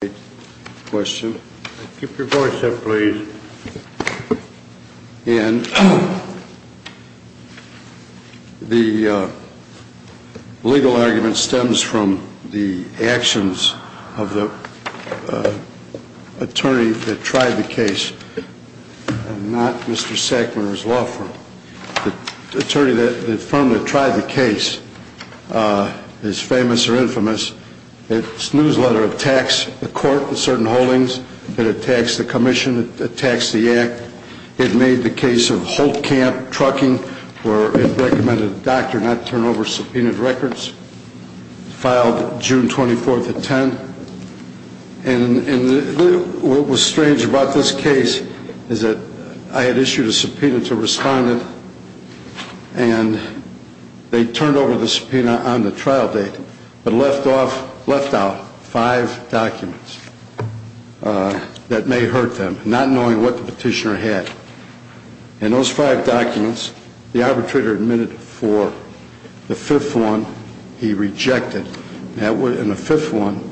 The legal argument stems from the actions of the attorney that tried the case, not Mr. Sackman or his law firm. The attorney that firmly tried the case is famous or infamous. Its newsletter attacks the court in certain holdings, it attacks the commission, it attacks the act. It made the case of Holt Camp Trucking where it recommended a doctor not turn over subpoenaed records. It was filed June 24, 2010. What was strange about this case is that I had issued a subpoena to a respondent and they turned over the subpoena on the trial date, but left out five documents that may hurt them, not knowing what the petitioner had. In those five documents, the arbitrator admitted for the fifth one he rejected. The fifth one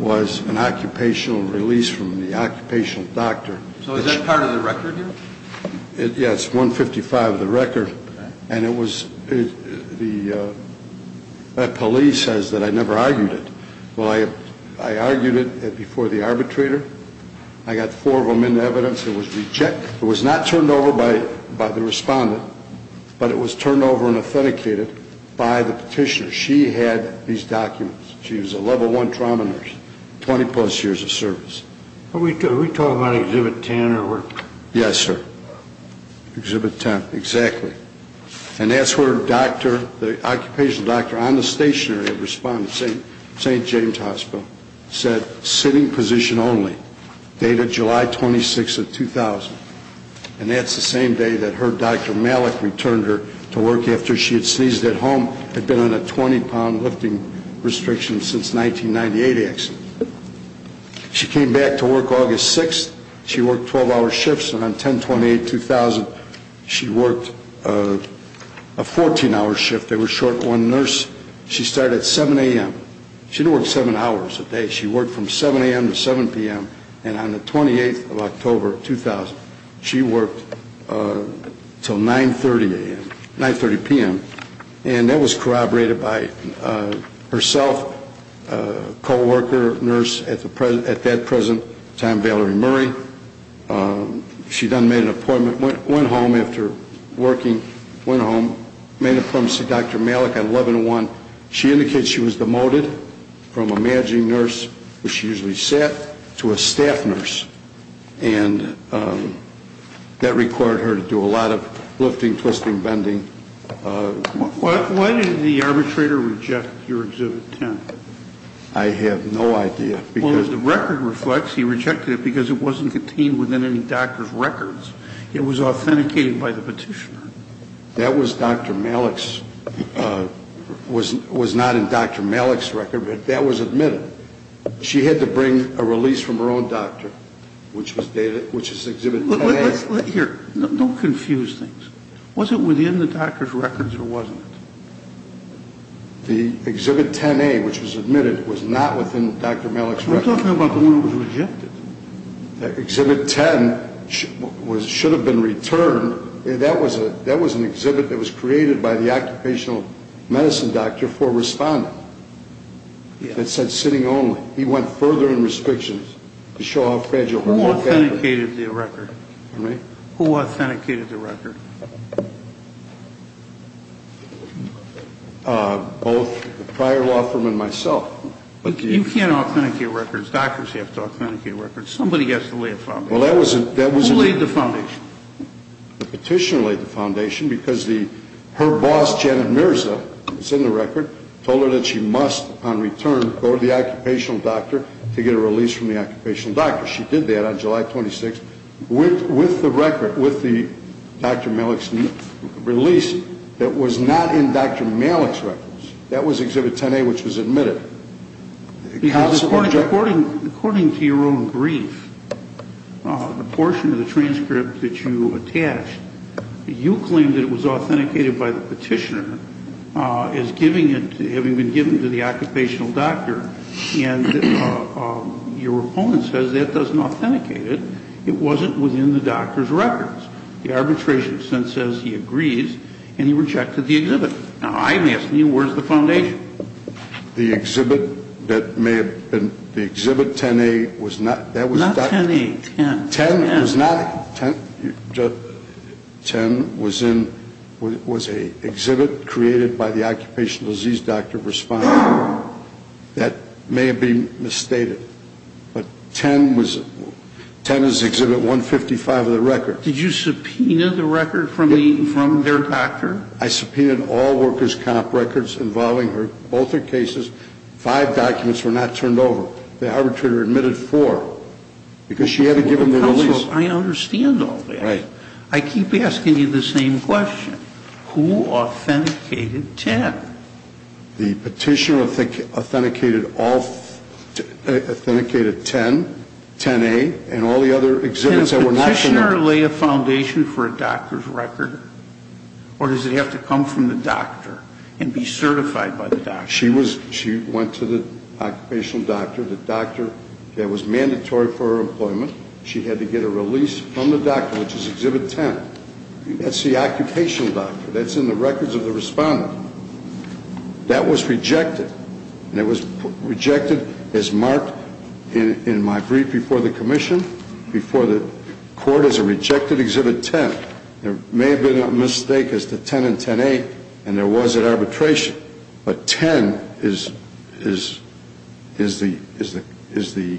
was an occupational release from the occupational doctor. So is that part of the record here? Yes, it's 155 of the record. The police says that I never argued it. Well, I argued it before the arbitrator. I got four of them into evidence. It was not turned over by the respondent, but it was turned over and authenticated by the petitioner. She had these documents. She was a level one trauma nurse, 20 plus years of service. Are we talking about Exhibit 10? Yes, sir. Exhibit 10, exactly. And that's where the occupational doctor on the stationery at St. James Hospital said, sitting position only, dated July 26, 2000. And that's the same day that her doctor, Malik, returned her to work after she had sneezed at home and had been on a 20-pound lifting restriction since the 1998 accident. She came back to work August 6. She worked 12-hour shifts. And on 10-28, 2000, she worked a 14-hour shift. They were short one nurse. She started at 7 a.m. She didn't work seven hours a day. She worked from 7 a.m. to 7 p.m. And on the 28th of October, 2000, she worked until 9.30 a.m. 9.30 p.m. And that was corroborated by herself, a co-worker nurse at that present time, Valerie Murray. She then made an appointment, went home after working, went home, made an appointment to see Dr. Malik at 11-1. She indicated she was demoted from a managing nurse, where she usually sat, to a staff nurse. And that required her to do a lot of lifting, twisting, bending. Why did the arbitrator reject your Exhibit 10? I have no idea. Well, as the record reflects, he rejected it because it wasn't contained within any doctor's records. It was authenticated by the petitioner. That was Dr. Malik's. It was not in Dr. Malik's record, but that was admitted. She had to bring a release from her own doctor, which is Exhibit 10A. Here, don't confuse things. Was it within the doctor's records or wasn't it? The Exhibit 10A, which was admitted, was not within Dr. Malik's records. We're talking about the one that was rejected. Exhibit 10 should have been returned. That was an exhibit that was created by the occupational medicine doctor for a respondent that said sitting only. He went further in restrictions to show how fragile her work was. Who authenticated the record? Pardon me? Who authenticated the record? Both the prior law firm and myself. You can't authenticate records. Doctors have to authenticate records. Somebody has to lay a foundation. Who laid the foundation? The petitioner laid the foundation because her boss, Janet Mirza, who was in the record, told her that she must, upon return, go to the occupational doctor to get a release from the occupational doctor. She did that on July 26th with the record, with the Dr. Malik's release, that was not in Dr. Malik's records. That was exhibit 10A, which was admitted. According to your own brief, the portion of the transcript that you attached, you claimed that it was authenticated by the petitioner as giving it, having been given to the occupational doctor. And your opponent says that doesn't authenticate it. It wasn't within the doctor's records. The arbitration sent says he agrees, and he rejected the exhibit. Now, I'm asking you, where's the foundation? The exhibit that may have been, the exhibit 10A was not, that was. Not 10A, 10. 10 was not, 10 was in, was a exhibit created by the occupational disease doctor responding. That may have been misstated, but 10 was, 10 is exhibit 155 of the record. Did you subpoena the record from the, from their doctor? I subpoenaed all workers' comp records involving her, both her cases. Five documents were not turned over. The arbitrator admitted four. Because she hadn't given the release. I understand all that. Right. I keep asking you the same question. Who authenticated 10? The petitioner authenticated all, authenticated 10, 10A, and all the other exhibits that were not. Does the petitioner lay a foundation for a doctor's record, or does it have to come from the doctor and be certified by the doctor? She was, she went to the occupational doctor, the doctor that was mandatory for her employment. She had to get a release from the doctor, which is exhibit 10. That's the occupational doctor. That's in the records of the respondent. That was rejected, and it was rejected as marked in my brief before the commission, before the court, as a rejected exhibit 10. There may have been a mistake as to 10 and 10A, and there was an arbitration. But 10 is the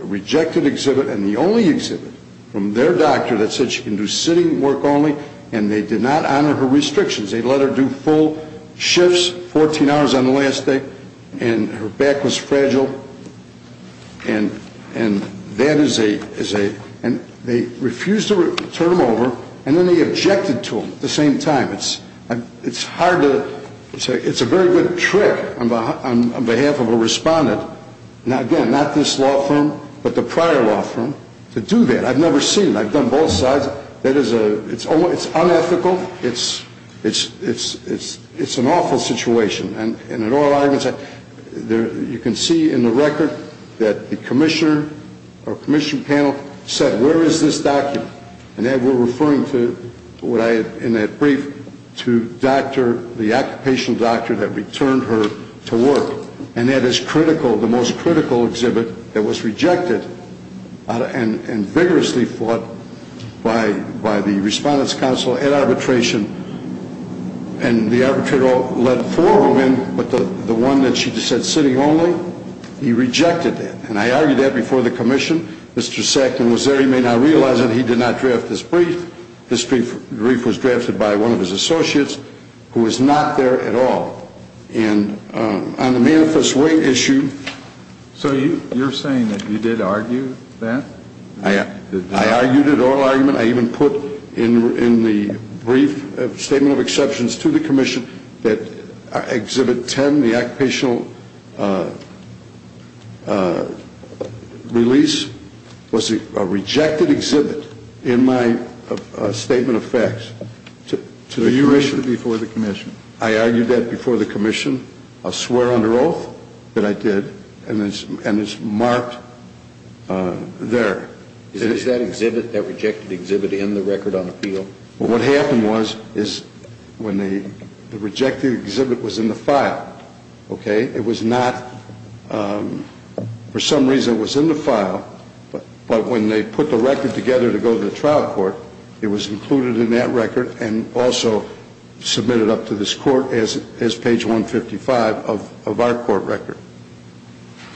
rejected exhibit and the only exhibit from their doctor that said she can do sitting work only, and they did not honor her restrictions. They let her do full shifts, 14 hours on the last day, and her back was fragile. And that is a, and they refused to turn them over, and then they objected to them at the same time. It's hard to, it's a very good trick on behalf of a respondent. Now, again, not this law firm, but the prior law firm to do that. I've never seen it. I've done both sides. That is a, it's unethical. It's an awful situation. And in all arguments, you can see in the record that the commissioner or commission panel said, where is this document? And that we're referring to what I, in that brief, to doctor, the occupational doctor that returned her to work. And that is critical, the most critical exhibit that was rejected and vigorously fought by the respondent's counsel at arbitration. And the arbitrator let four of them in, but the one that she said sitting only, he rejected that. And I argued that before the commission. Mr. Saxton was there. He may not realize it. He did not draft this brief. This brief was drafted by one of his associates who was not there at all. And on the manifest weight issue. So you're saying that you did argue that? I argued it all argument. I even put in the brief statement of exceptions to the commission that exhibit 10, the occupational release, was a rejected exhibit in my statement of facts to the commission. So you raised it before the commission? I argued that before the commission. I swear under oath that I did. And it's marked there. Is that exhibit, that rejected exhibit, in the record on appeal? Well, what happened was, is when the rejected exhibit was in the file, okay, it was not, for some reason it was in the file. But when they put the record together to go to the trial court, it was included in that record and also submitted up to this court as page 155 of our court record,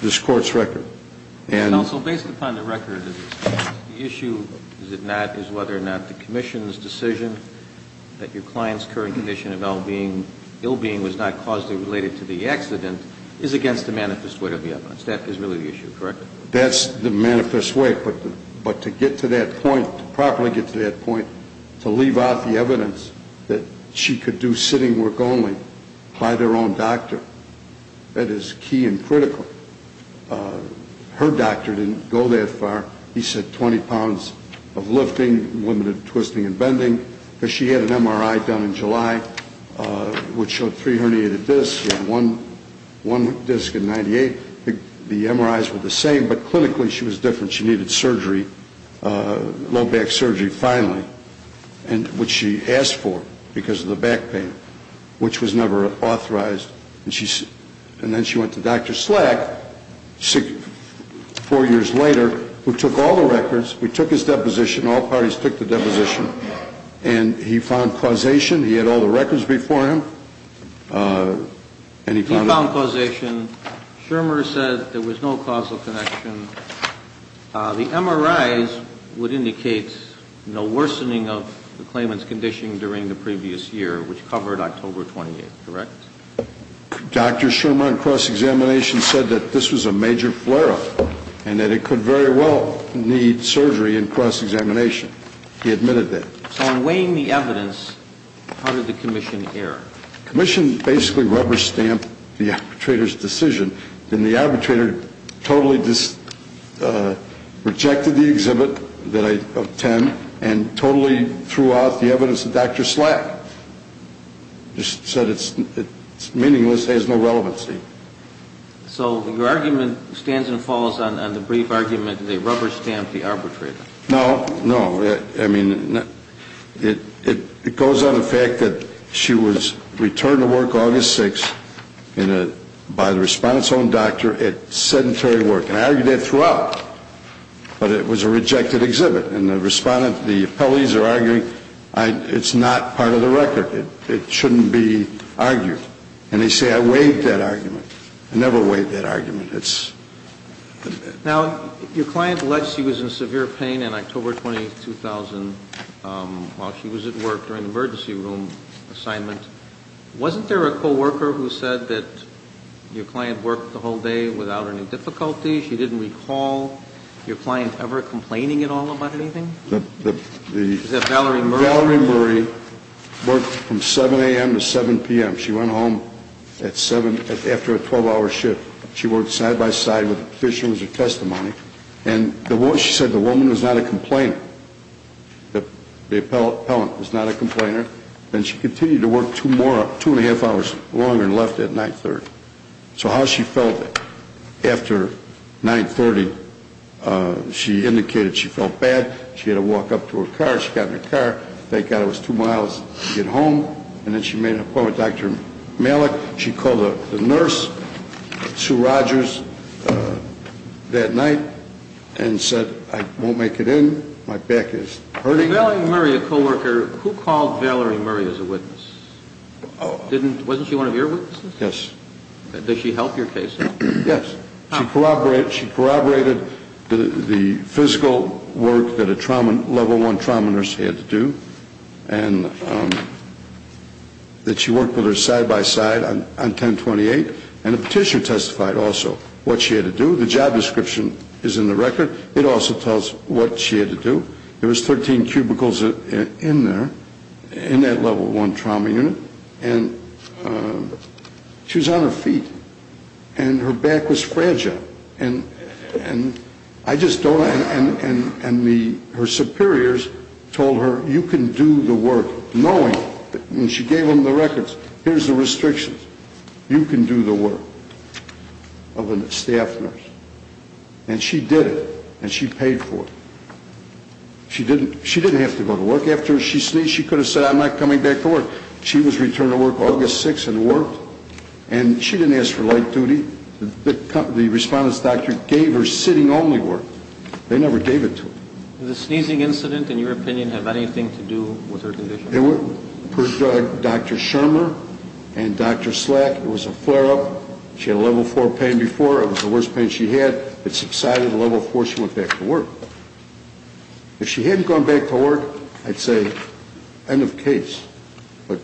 this court's record. Counsel, based upon the record, the issue, is it not, is whether or not the commission's decision that your client's current condition of ill being was not causally related to the accident is against the manifest weight of the evidence. That is really the issue, correct? That's the manifest weight. But to get to that point, to properly get to that point, to leave out the evidence that she could do sitting work only by their own doctor, that is key and critical. Her doctor didn't go that far. He said 20 pounds of lifting, limited twisting and bending. She had an MRI done in July which showed three herniated discs. She had one disc in 1998. The MRIs were the same, but clinically she was different. She needed surgery, low back surgery finally, which she asked for because of the back pain, which was never authorized. And then she went to Dr. Slack, four years later, who took all the records. We took his deposition. All parties took the deposition. And he found causation. He had all the records before him. He found causation. Schirmer said there was no causal connection. The MRIs would indicate no worsening of the claimant's condition during the previous year, which covered October 28th, correct? Dr. Schirmer, in cross-examination, said that this was a major flare-up and that it could very well need surgery in cross-examination. He admitted that. So in weighing the evidence, how did the commission err? The commission basically rubber-stamped the arbitrator's decision. And the arbitrator totally rejected the exhibit of 10 and totally threw out the evidence of Dr. Slack. Just said it's meaningless, has no relevancy. So your argument stands and falls on the brief argument that they rubber-stamped the arbitrator. No, no. It goes on the fact that she was returned to work August 6th by the respondent's own doctor at sedentary work. And I argued that throughout. But it was a rejected exhibit. And the appellees are arguing it's not part of the record. It shouldn't be argued. And they say I waived that argument. I never waived that argument. Now, your client alleged she was in severe pain on October 22, 2000 while she was at work during an emergency room assignment. Wasn't there a co-worker who said that your client worked the whole day without any difficulty? She didn't recall your client ever complaining at all about anything? Valerie Murray worked from 7 a.m. to 7 p.m. She went home after a 12-hour shift. She worked side-by-side with the petitioner as her testimony. And she said the woman was not a complainer, the appellant was not a complainer. And she continued to work two and a half hours longer and left at 9 30. So how she felt after 9 30, she indicated she felt bad. She had to walk up to her car. She got in her car. Thank God it was two miles to get home. And then she made an appointment with Dr. Malik. She called the nurse, Sue Rogers, that night and said, I won't make it in. My back is hurting. Valerie Murray, a co-worker, who called Valerie Murray as a witness? Wasn't she one of your witnesses? Yes. Did she help your case? Yes. She corroborated the physical work that a level one trauma nurse had to do. And that she worked with her side-by-side on 10 28. And the petitioner testified also what she had to do. The job description is in the record. It also tells what she had to do. There was 13 cubicles in there, in that level one trauma unit. And she was on her feet. And her back was fragile. And her superiors told her, you can do the work, knowing. And she gave them the records. Here's the restrictions. You can do the work of a staff nurse. And she did it. And she paid for it. She didn't have to go to work after she sneezed. She could have said, I'm not coming back to work. She was returned to work August 6 and worked. And she didn't ask for late duty. The respondent's doctor gave her sitting-only work. They never gave it to her. Did the sneezing incident, in your opinion, have anything to do with her condition? It would. Per Dr. Schirmer and Dr. Slack, it was a flare-up. She had a level four pain before. It was the worst pain she had. It subsided to level four. She went back to work. If she hadn't gone back to work, I'd say, end of case. But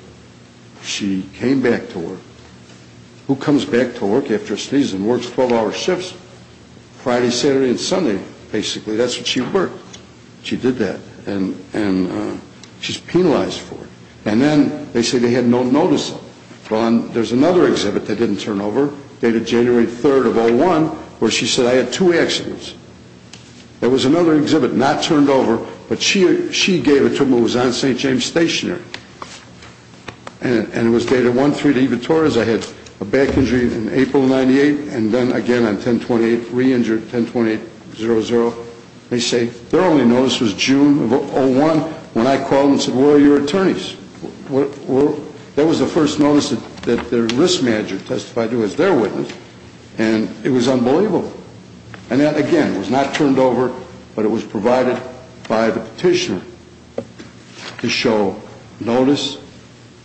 she came back to work. Who comes back to work after sneezing and works 12-hour shifts Friday, Saturday, and Sunday, basically? That's what she worked. She did that. And she's penalized for it. And then they say they had no notice of it. There's another exhibit that didn't turn over, dated January 3 of 2001, where she said, I had two accidents. There was another exhibit not turned over, but she gave it to him. It was on St. James Stationery. And it was dated 1-3 to Eva Torres. I had a back injury in April of 98, and then again on 10-28, re-injured 10-28-00. They say their only notice was June of 01, when I called and said, where are your attorneys? That was the first notice that their risk manager testified to as their witness. And it was unbelievable. And that, again, was not turned over, but it was provided by the petitioner to show notice,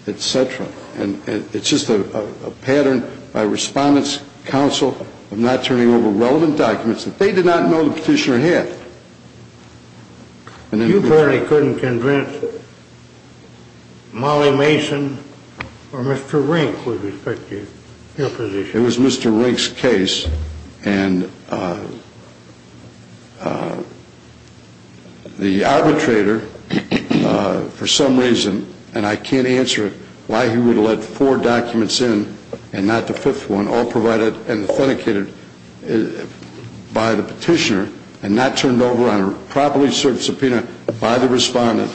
et cetera. And it's just a pattern by Respondent's Counsel of not turning over relevant documents that they did not know the petitioner had. You barely couldn't convince Molly Mason or Mr. Rink with respect to your position. It was Mr. Rink's case, and the arbitrator, for some reason, and I can't answer why he would let four documents in and not the fifth one, all provided and authenticated by the petitioner, and not turned over on a properly served subpoena by the Respondent,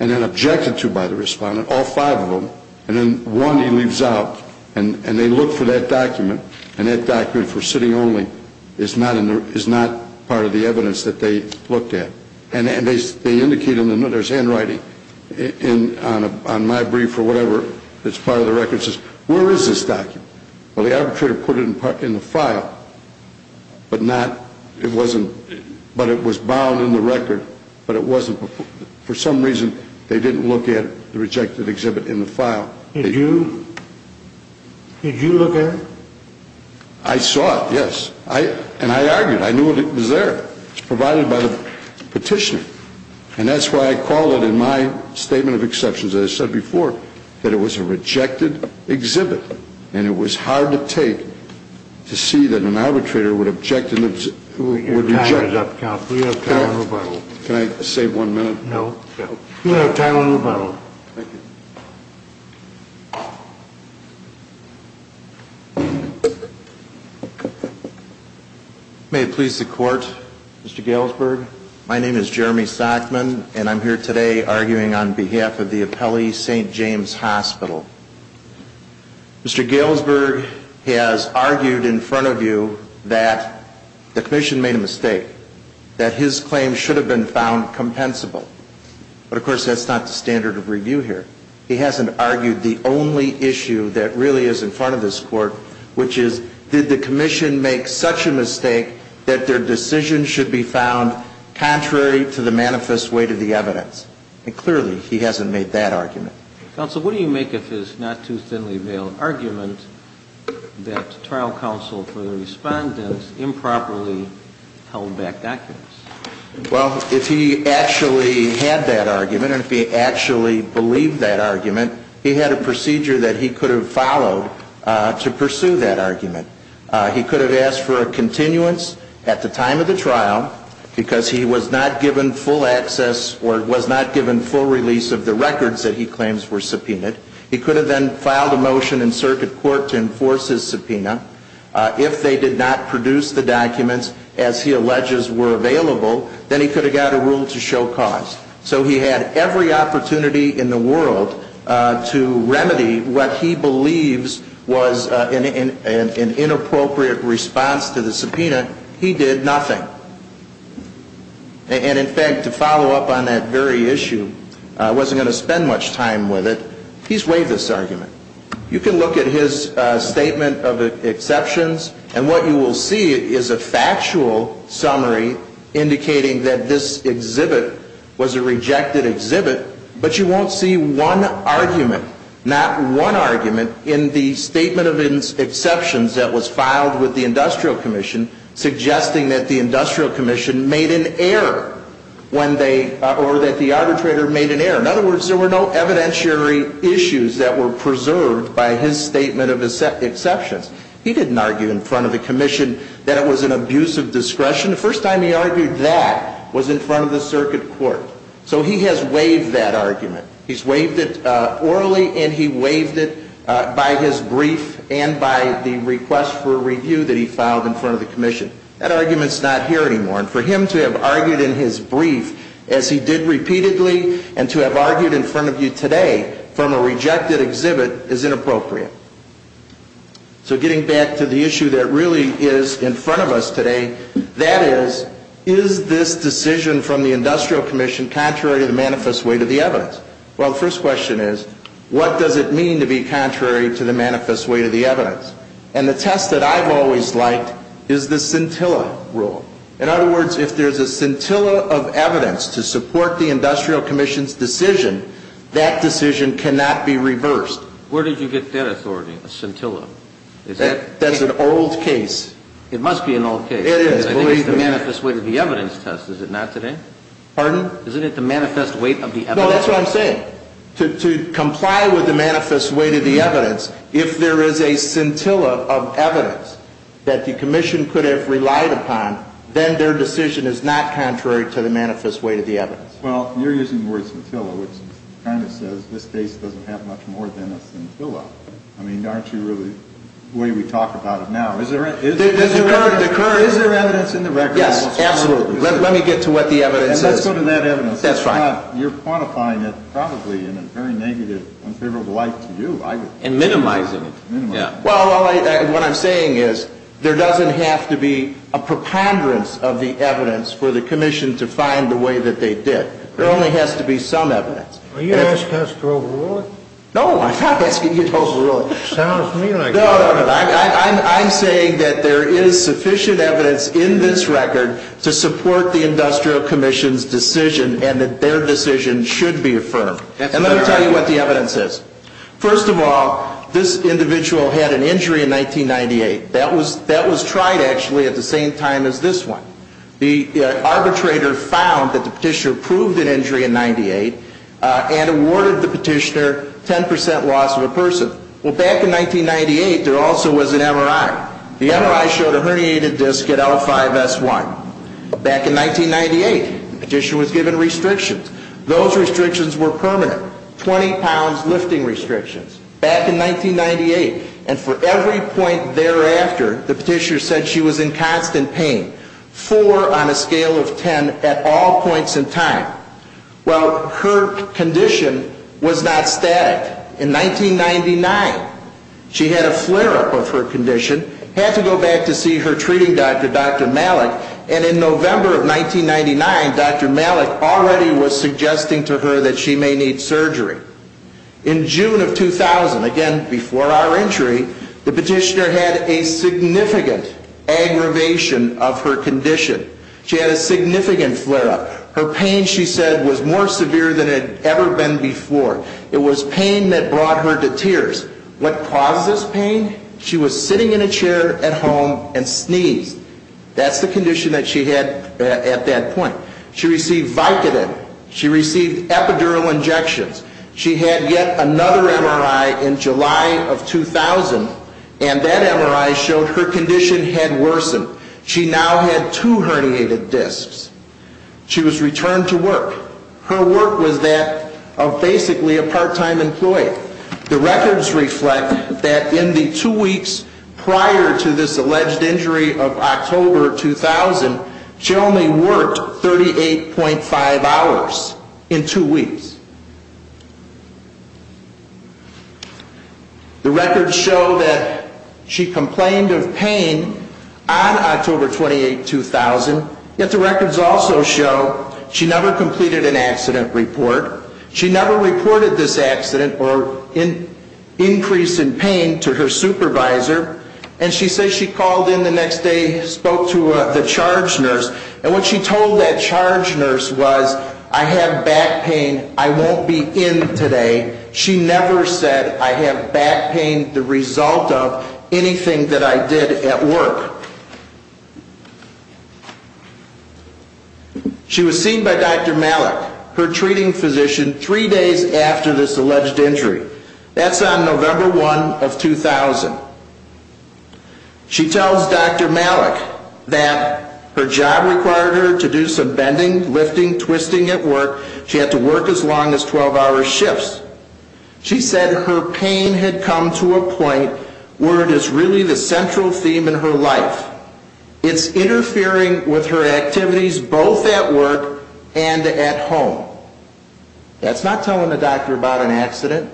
and then objected to by the Respondent, all five of them, and then one he leaves out. And they look for that document, and that document for sitting only is not part of the evidence that they looked at. And they indicate, and there's handwriting on my brief or whatever that's part of the record that says, where is this document? Well, the arbitrator put it in the file, but it was bound in the record. But it wasn't, for some reason, they didn't look at the rejected exhibit in the file. Did you? Did you look at it? I saw it, yes. And I argued. I knew it was there. It was provided by the petitioner. And that's why I called it in my statement of exceptions, as I said before, that it was a rejected exhibit. Your time is up, counsel. We have time for rebuttal. Can I save one minute? We have time for rebuttal. Thank you. May it please the Court. Mr. Galesburg. My name is Jeremy Stockman, and I'm here today arguing on behalf of the Appellee St. James Hospital. Mr. Galesburg has argued in front of you that the Commission made a mistake, that his claim should have been found compensable. But, of course, that's not the standard of review here. He hasn't argued the only issue that really is in front of this Court, which is, did the Commission make such a mistake that their decision should be found contrary to the manifest way to the evidence? And clearly, he hasn't made that argument. Counsel, what do you make of his not-too-thinly-veiled argument that trial counsel for the respondent improperly held back documents? Well, if he actually had that argument, and if he actually believed that argument, he had a procedure that he could have followed to pursue that argument. He could have asked for a continuance at the time of the trial, because he was not given full access or was not given full release of the records that he claims were subpoenaed. He could have then filed a motion in circuit court to enforce his subpoena. If they did not produce the documents as he alleges were available, then he could have got a rule to show cause. So he had every opportunity in the world to remedy what he believes was an inappropriate response to the subpoena. He did nothing. And in fact, to follow up on that very issue, I wasn't going to spend much time with it. He's waived this argument. You can look at his statement of exceptions, and what you will see is a factual summary indicating that this exhibit was a rejected exhibit. But you won't see one argument, not one argument, in the statement of exceptions that was filed with the Industrial Commission, suggesting that the Industrial Commission made an error when they, or that the arbitrator made an error. In other words, there were no evidentiary issues that were preserved by his statement of exceptions. He didn't argue in front of the Commission that it was an abuse of discretion. The first time he argued that was in front of the circuit court. So he has waived that argument. He's waived it orally, and he waived it by his brief and by the request for review that he filed in front of the Commission. That argument's not here anymore, and for him to have argued in his brief, as he did repeatedly, and to have argued in front of you today from a rejected exhibit is inappropriate. So getting back to the issue that really is in front of us today, that is, is this decision from the Industrial Commission contrary to the manifest weight of the evidence? Well, the first question is, what does it mean to be contrary to the manifest weight of the evidence? And the test that I've always liked is the scintilla rule. In other words, if there's a scintilla of evidence to support the Industrial Commission's decision, that decision cannot be reversed. Where did you get that authority, a scintilla? That's an old case. It must be an old case. It is, believe me. I think it's the manifest weight of the evidence test, is it not, today? Pardon? No, that's what I'm saying. To comply with the manifest weight of the evidence, if there is a scintilla of evidence that the Commission could have relied upon, then their decision is not contrary to the manifest weight of the evidence. Well, you're using the word scintilla, which kind of says this case doesn't have much more than a scintilla. I mean, aren't you really the way we talk about it now? Is there evidence in the record? Yes, absolutely. Let me get to what the evidence is. And let's go to that evidence. That's right. You're quantifying it probably in a very negative, unfavorable light to you. And minimizing it. Well, what I'm saying is there doesn't have to be a preponderance of the evidence for the Commission to find the way that they did. There only has to be some evidence. Are you asking us to overrule it? No, I'm not asking you to overrule it. Sounds to me like you are. No, no, no. I'm saying that there is sufficient evidence in this record to support the Industrial Commission's decision and that their decision should be affirmed. And let me tell you what the evidence is. First of all, this individual had an injury in 1998. That was tried, actually, at the same time as this one. The arbitrator found that the petitioner proved an injury in 1998 and awarded the petitioner 10% loss of a person. Well, back in 1998, there also was an MRI. The MRI showed a herniated disc at L5-S1. Back in 1998, the petitioner was given restrictions. Those restrictions were permanent. 20 pounds lifting restrictions. Back in 1998, and for every point thereafter, the petitioner said she was in constant pain. Four on a scale of 10 at all points in time. Well, her condition was not static. In 1999, she had a flare-up of her condition, had to go back to see her treating doctor, Dr. Malik, and in November of 1999, Dr. Malik already was suggesting to her that she may need surgery. In June of 2000, again, before our entry, the petitioner had a significant aggravation of her condition. She had a significant flare-up. Her pain, she said, was more severe than it had ever been before. It was pain that brought her to tears. What caused this pain? She was sitting in a chair at home and sneezed. That's the condition that she had at that point. She received Vicodin. She received epidural injections. She had yet another MRI in July of 2000, and that MRI showed her condition had worsened. She now had two herniated discs. She was returned to work. Her work was that of basically a part-time employee. The records reflect that in the two weeks prior to this alleged injury of October 2000, she only worked 38.5 hours in two weeks. The records show that she complained of pain on October 28, 2000, yet the records also show she never completed an accident report. She never reported this accident or increase in pain to her supervisor, and she says she called in the next day, spoke to the charge nurse, and what she told that charge nurse was, I have back pain. I won't be in today. She never said, I have back pain the result of anything that I did at work. She was seen by Dr. Malik, her treating physician, three days after this alleged injury. That's on November 1 of 2000. She tells Dr. Malik that her job required her to do some bending, lifting, twisting at work. She had to work as long as 12-hour shifts. She said her pain had come to a point where it is really the central theme in her life. It's interfering with her activities both at work and at home. That's not telling the doctor about an accident.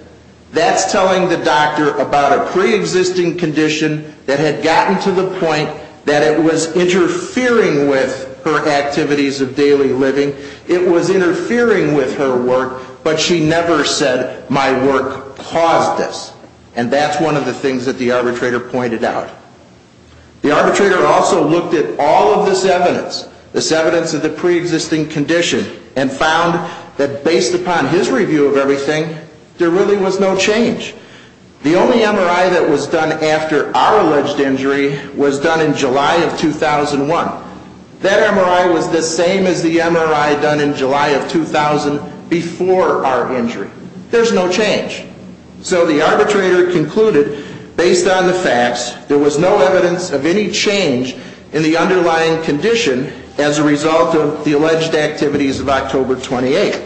That's telling the doctor about a preexisting condition that had gotten to the point that it was interfering with her activities of daily living. It was interfering with her work, but she never said, my work caused this. And that's one of the things that the arbitrator pointed out. The arbitrator also looked at all of this evidence, this evidence of the preexisting condition, and found that based upon his review of everything, there really was no change. The only MRI that was done after our alleged injury was done in July of 2001. That MRI was the same as the MRI done in July of 2000 before our injury. There's no change. So the arbitrator concluded, based on the facts, there was no evidence of any change in the underlying condition as a result of the alleged activities of October 28.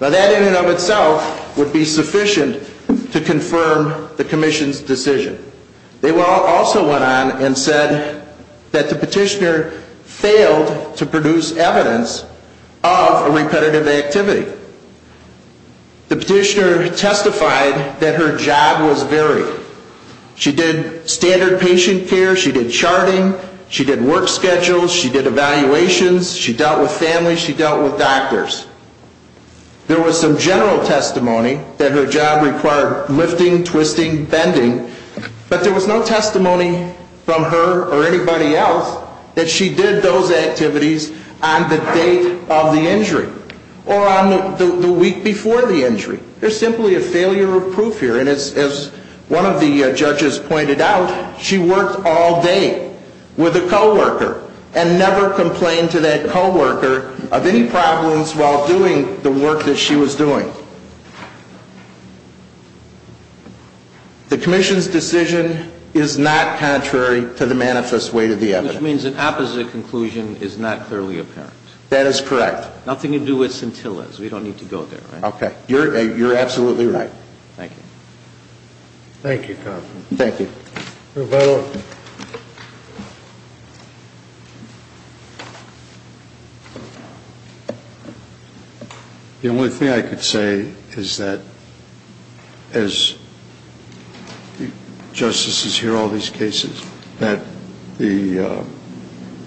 Now that in and of itself would be sufficient to confirm the Commission's decision. They also went on and said that the petitioner failed to produce evidence of a repetitive activity. The petitioner testified that her job was varied. She did standard patient care. She did charting. She did work schedules. She did evaluations. She dealt with families. She dealt with doctors. There was some general testimony that her job required lifting, twisting, bending. But there was no testimony from her or anybody else that she did those activities on the date of the injury or on the week before the injury. There's simply a failure of proof here. And as one of the judges pointed out, she worked all day with a co-worker and never complained to that co-worker of any problems while doing the work that she was doing. The Commission's decision is not contrary to the manifest weight of the evidence. Which means an opposite conclusion is not clearly apparent. That is correct. Nothing to do with scintillas. We don't need to go there, right? Okay. You're absolutely right. Thank you. Thank you, counsel. Thank you. Roberto. The only thing I could say is that as justices hear all these cases, that the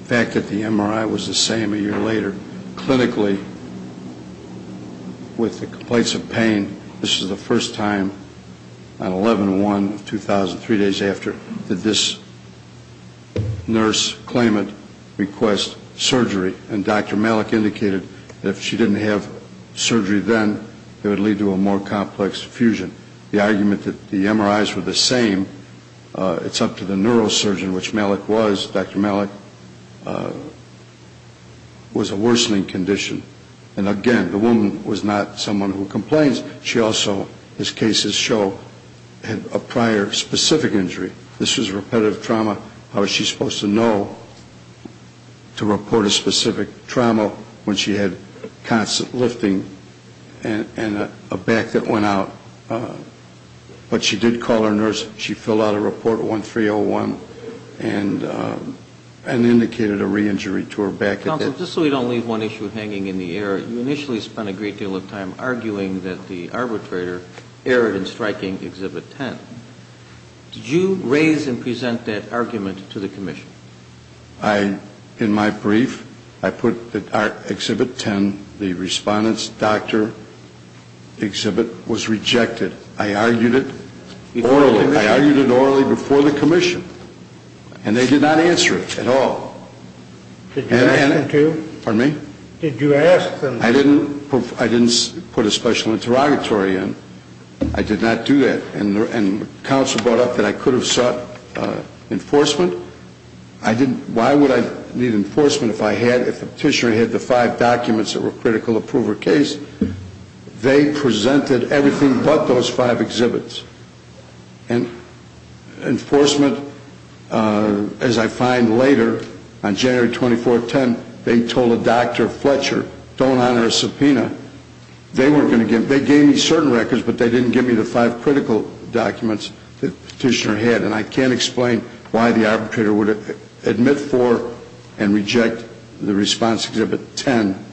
fact that the MRI was the same a year later, clinically, with the complaints of pain, this is the first time on 11-1-2000, three days after, that this nurse claimant request surgery. And Dr. Malik indicated that if she didn't have surgery then, it would lead to a more complex fusion. The argument that the MRIs were the same, it's up to the neurosurgeon, which Malik was. Dr. Malik was a worsening condition. And again, the woman was not someone who complains. She also, as cases show, had a prior specific injury. This was repetitive trauma. How is she supposed to know to report a specific trauma when she had constant lifting and a back that went out? But she did call her nurse. She filled out a report 1301 and indicated a re-injury to her back. Counsel, just so we don't leave one issue hanging in the air, you initially spent a great deal of time arguing that the arbitrator erred in striking Exhibit 10. Did you raise and present that argument to the commission? In my brief, I put that Exhibit 10, the respondent's doctor exhibit, was rejected. I argued it orally before the commission. And they did not answer it at all. Did you ask them to? Pardon me? Did you ask them? I didn't put a special interrogatory in. I did not do that. And counsel brought up that I could have sought enforcement. Why would I need enforcement if the petitioner had the five documents that were critical to prove her case? They presented everything but those five exhibits. And enforcement, as I find later, on January 24th, 2010, they told a Dr. Fletcher, don't honor a subpoena. They gave me certain records, but they didn't give me the five critical documents the petitioner had. And I can't explain why the arbitrator would admit for and reject the response to Exhibit 10.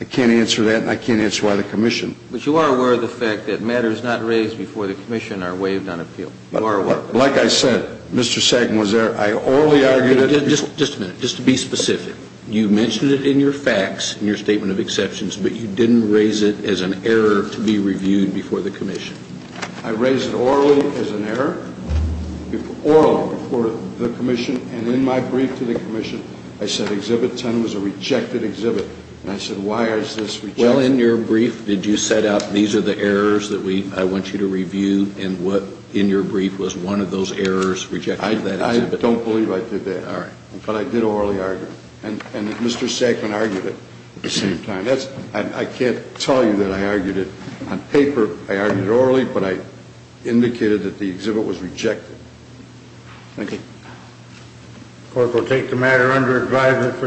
I can't answer that, and I can't answer why the commission. But you are aware of the fact that matters not raised before the commission are waived on appeal. You are aware. Like I said, Mr. Sagan was there. I orally argued it. Just a minute. Just to be specific. You mentioned it in your facts, in your statement of exceptions, but you didn't raise it as an error to be reviewed before the commission. I raised it orally as an error, orally, before the commission. And in my brief to the commission, I said Exhibit 10 was a rejected exhibit. And I said, why is this rejected? Well, in your brief, did you set up, these are the errors that I want you to review, and what, in your brief, was one of those errors, rejecting that exhibit? I don't believe I did that. All right. But I did orally argue it. And Mr. Sagan argued it at the same time. I can't tell you that I argued it on paper. I argued it orally, but I indicated that the exhibit was rejected. Thank you. The Court will take the matter under advisement.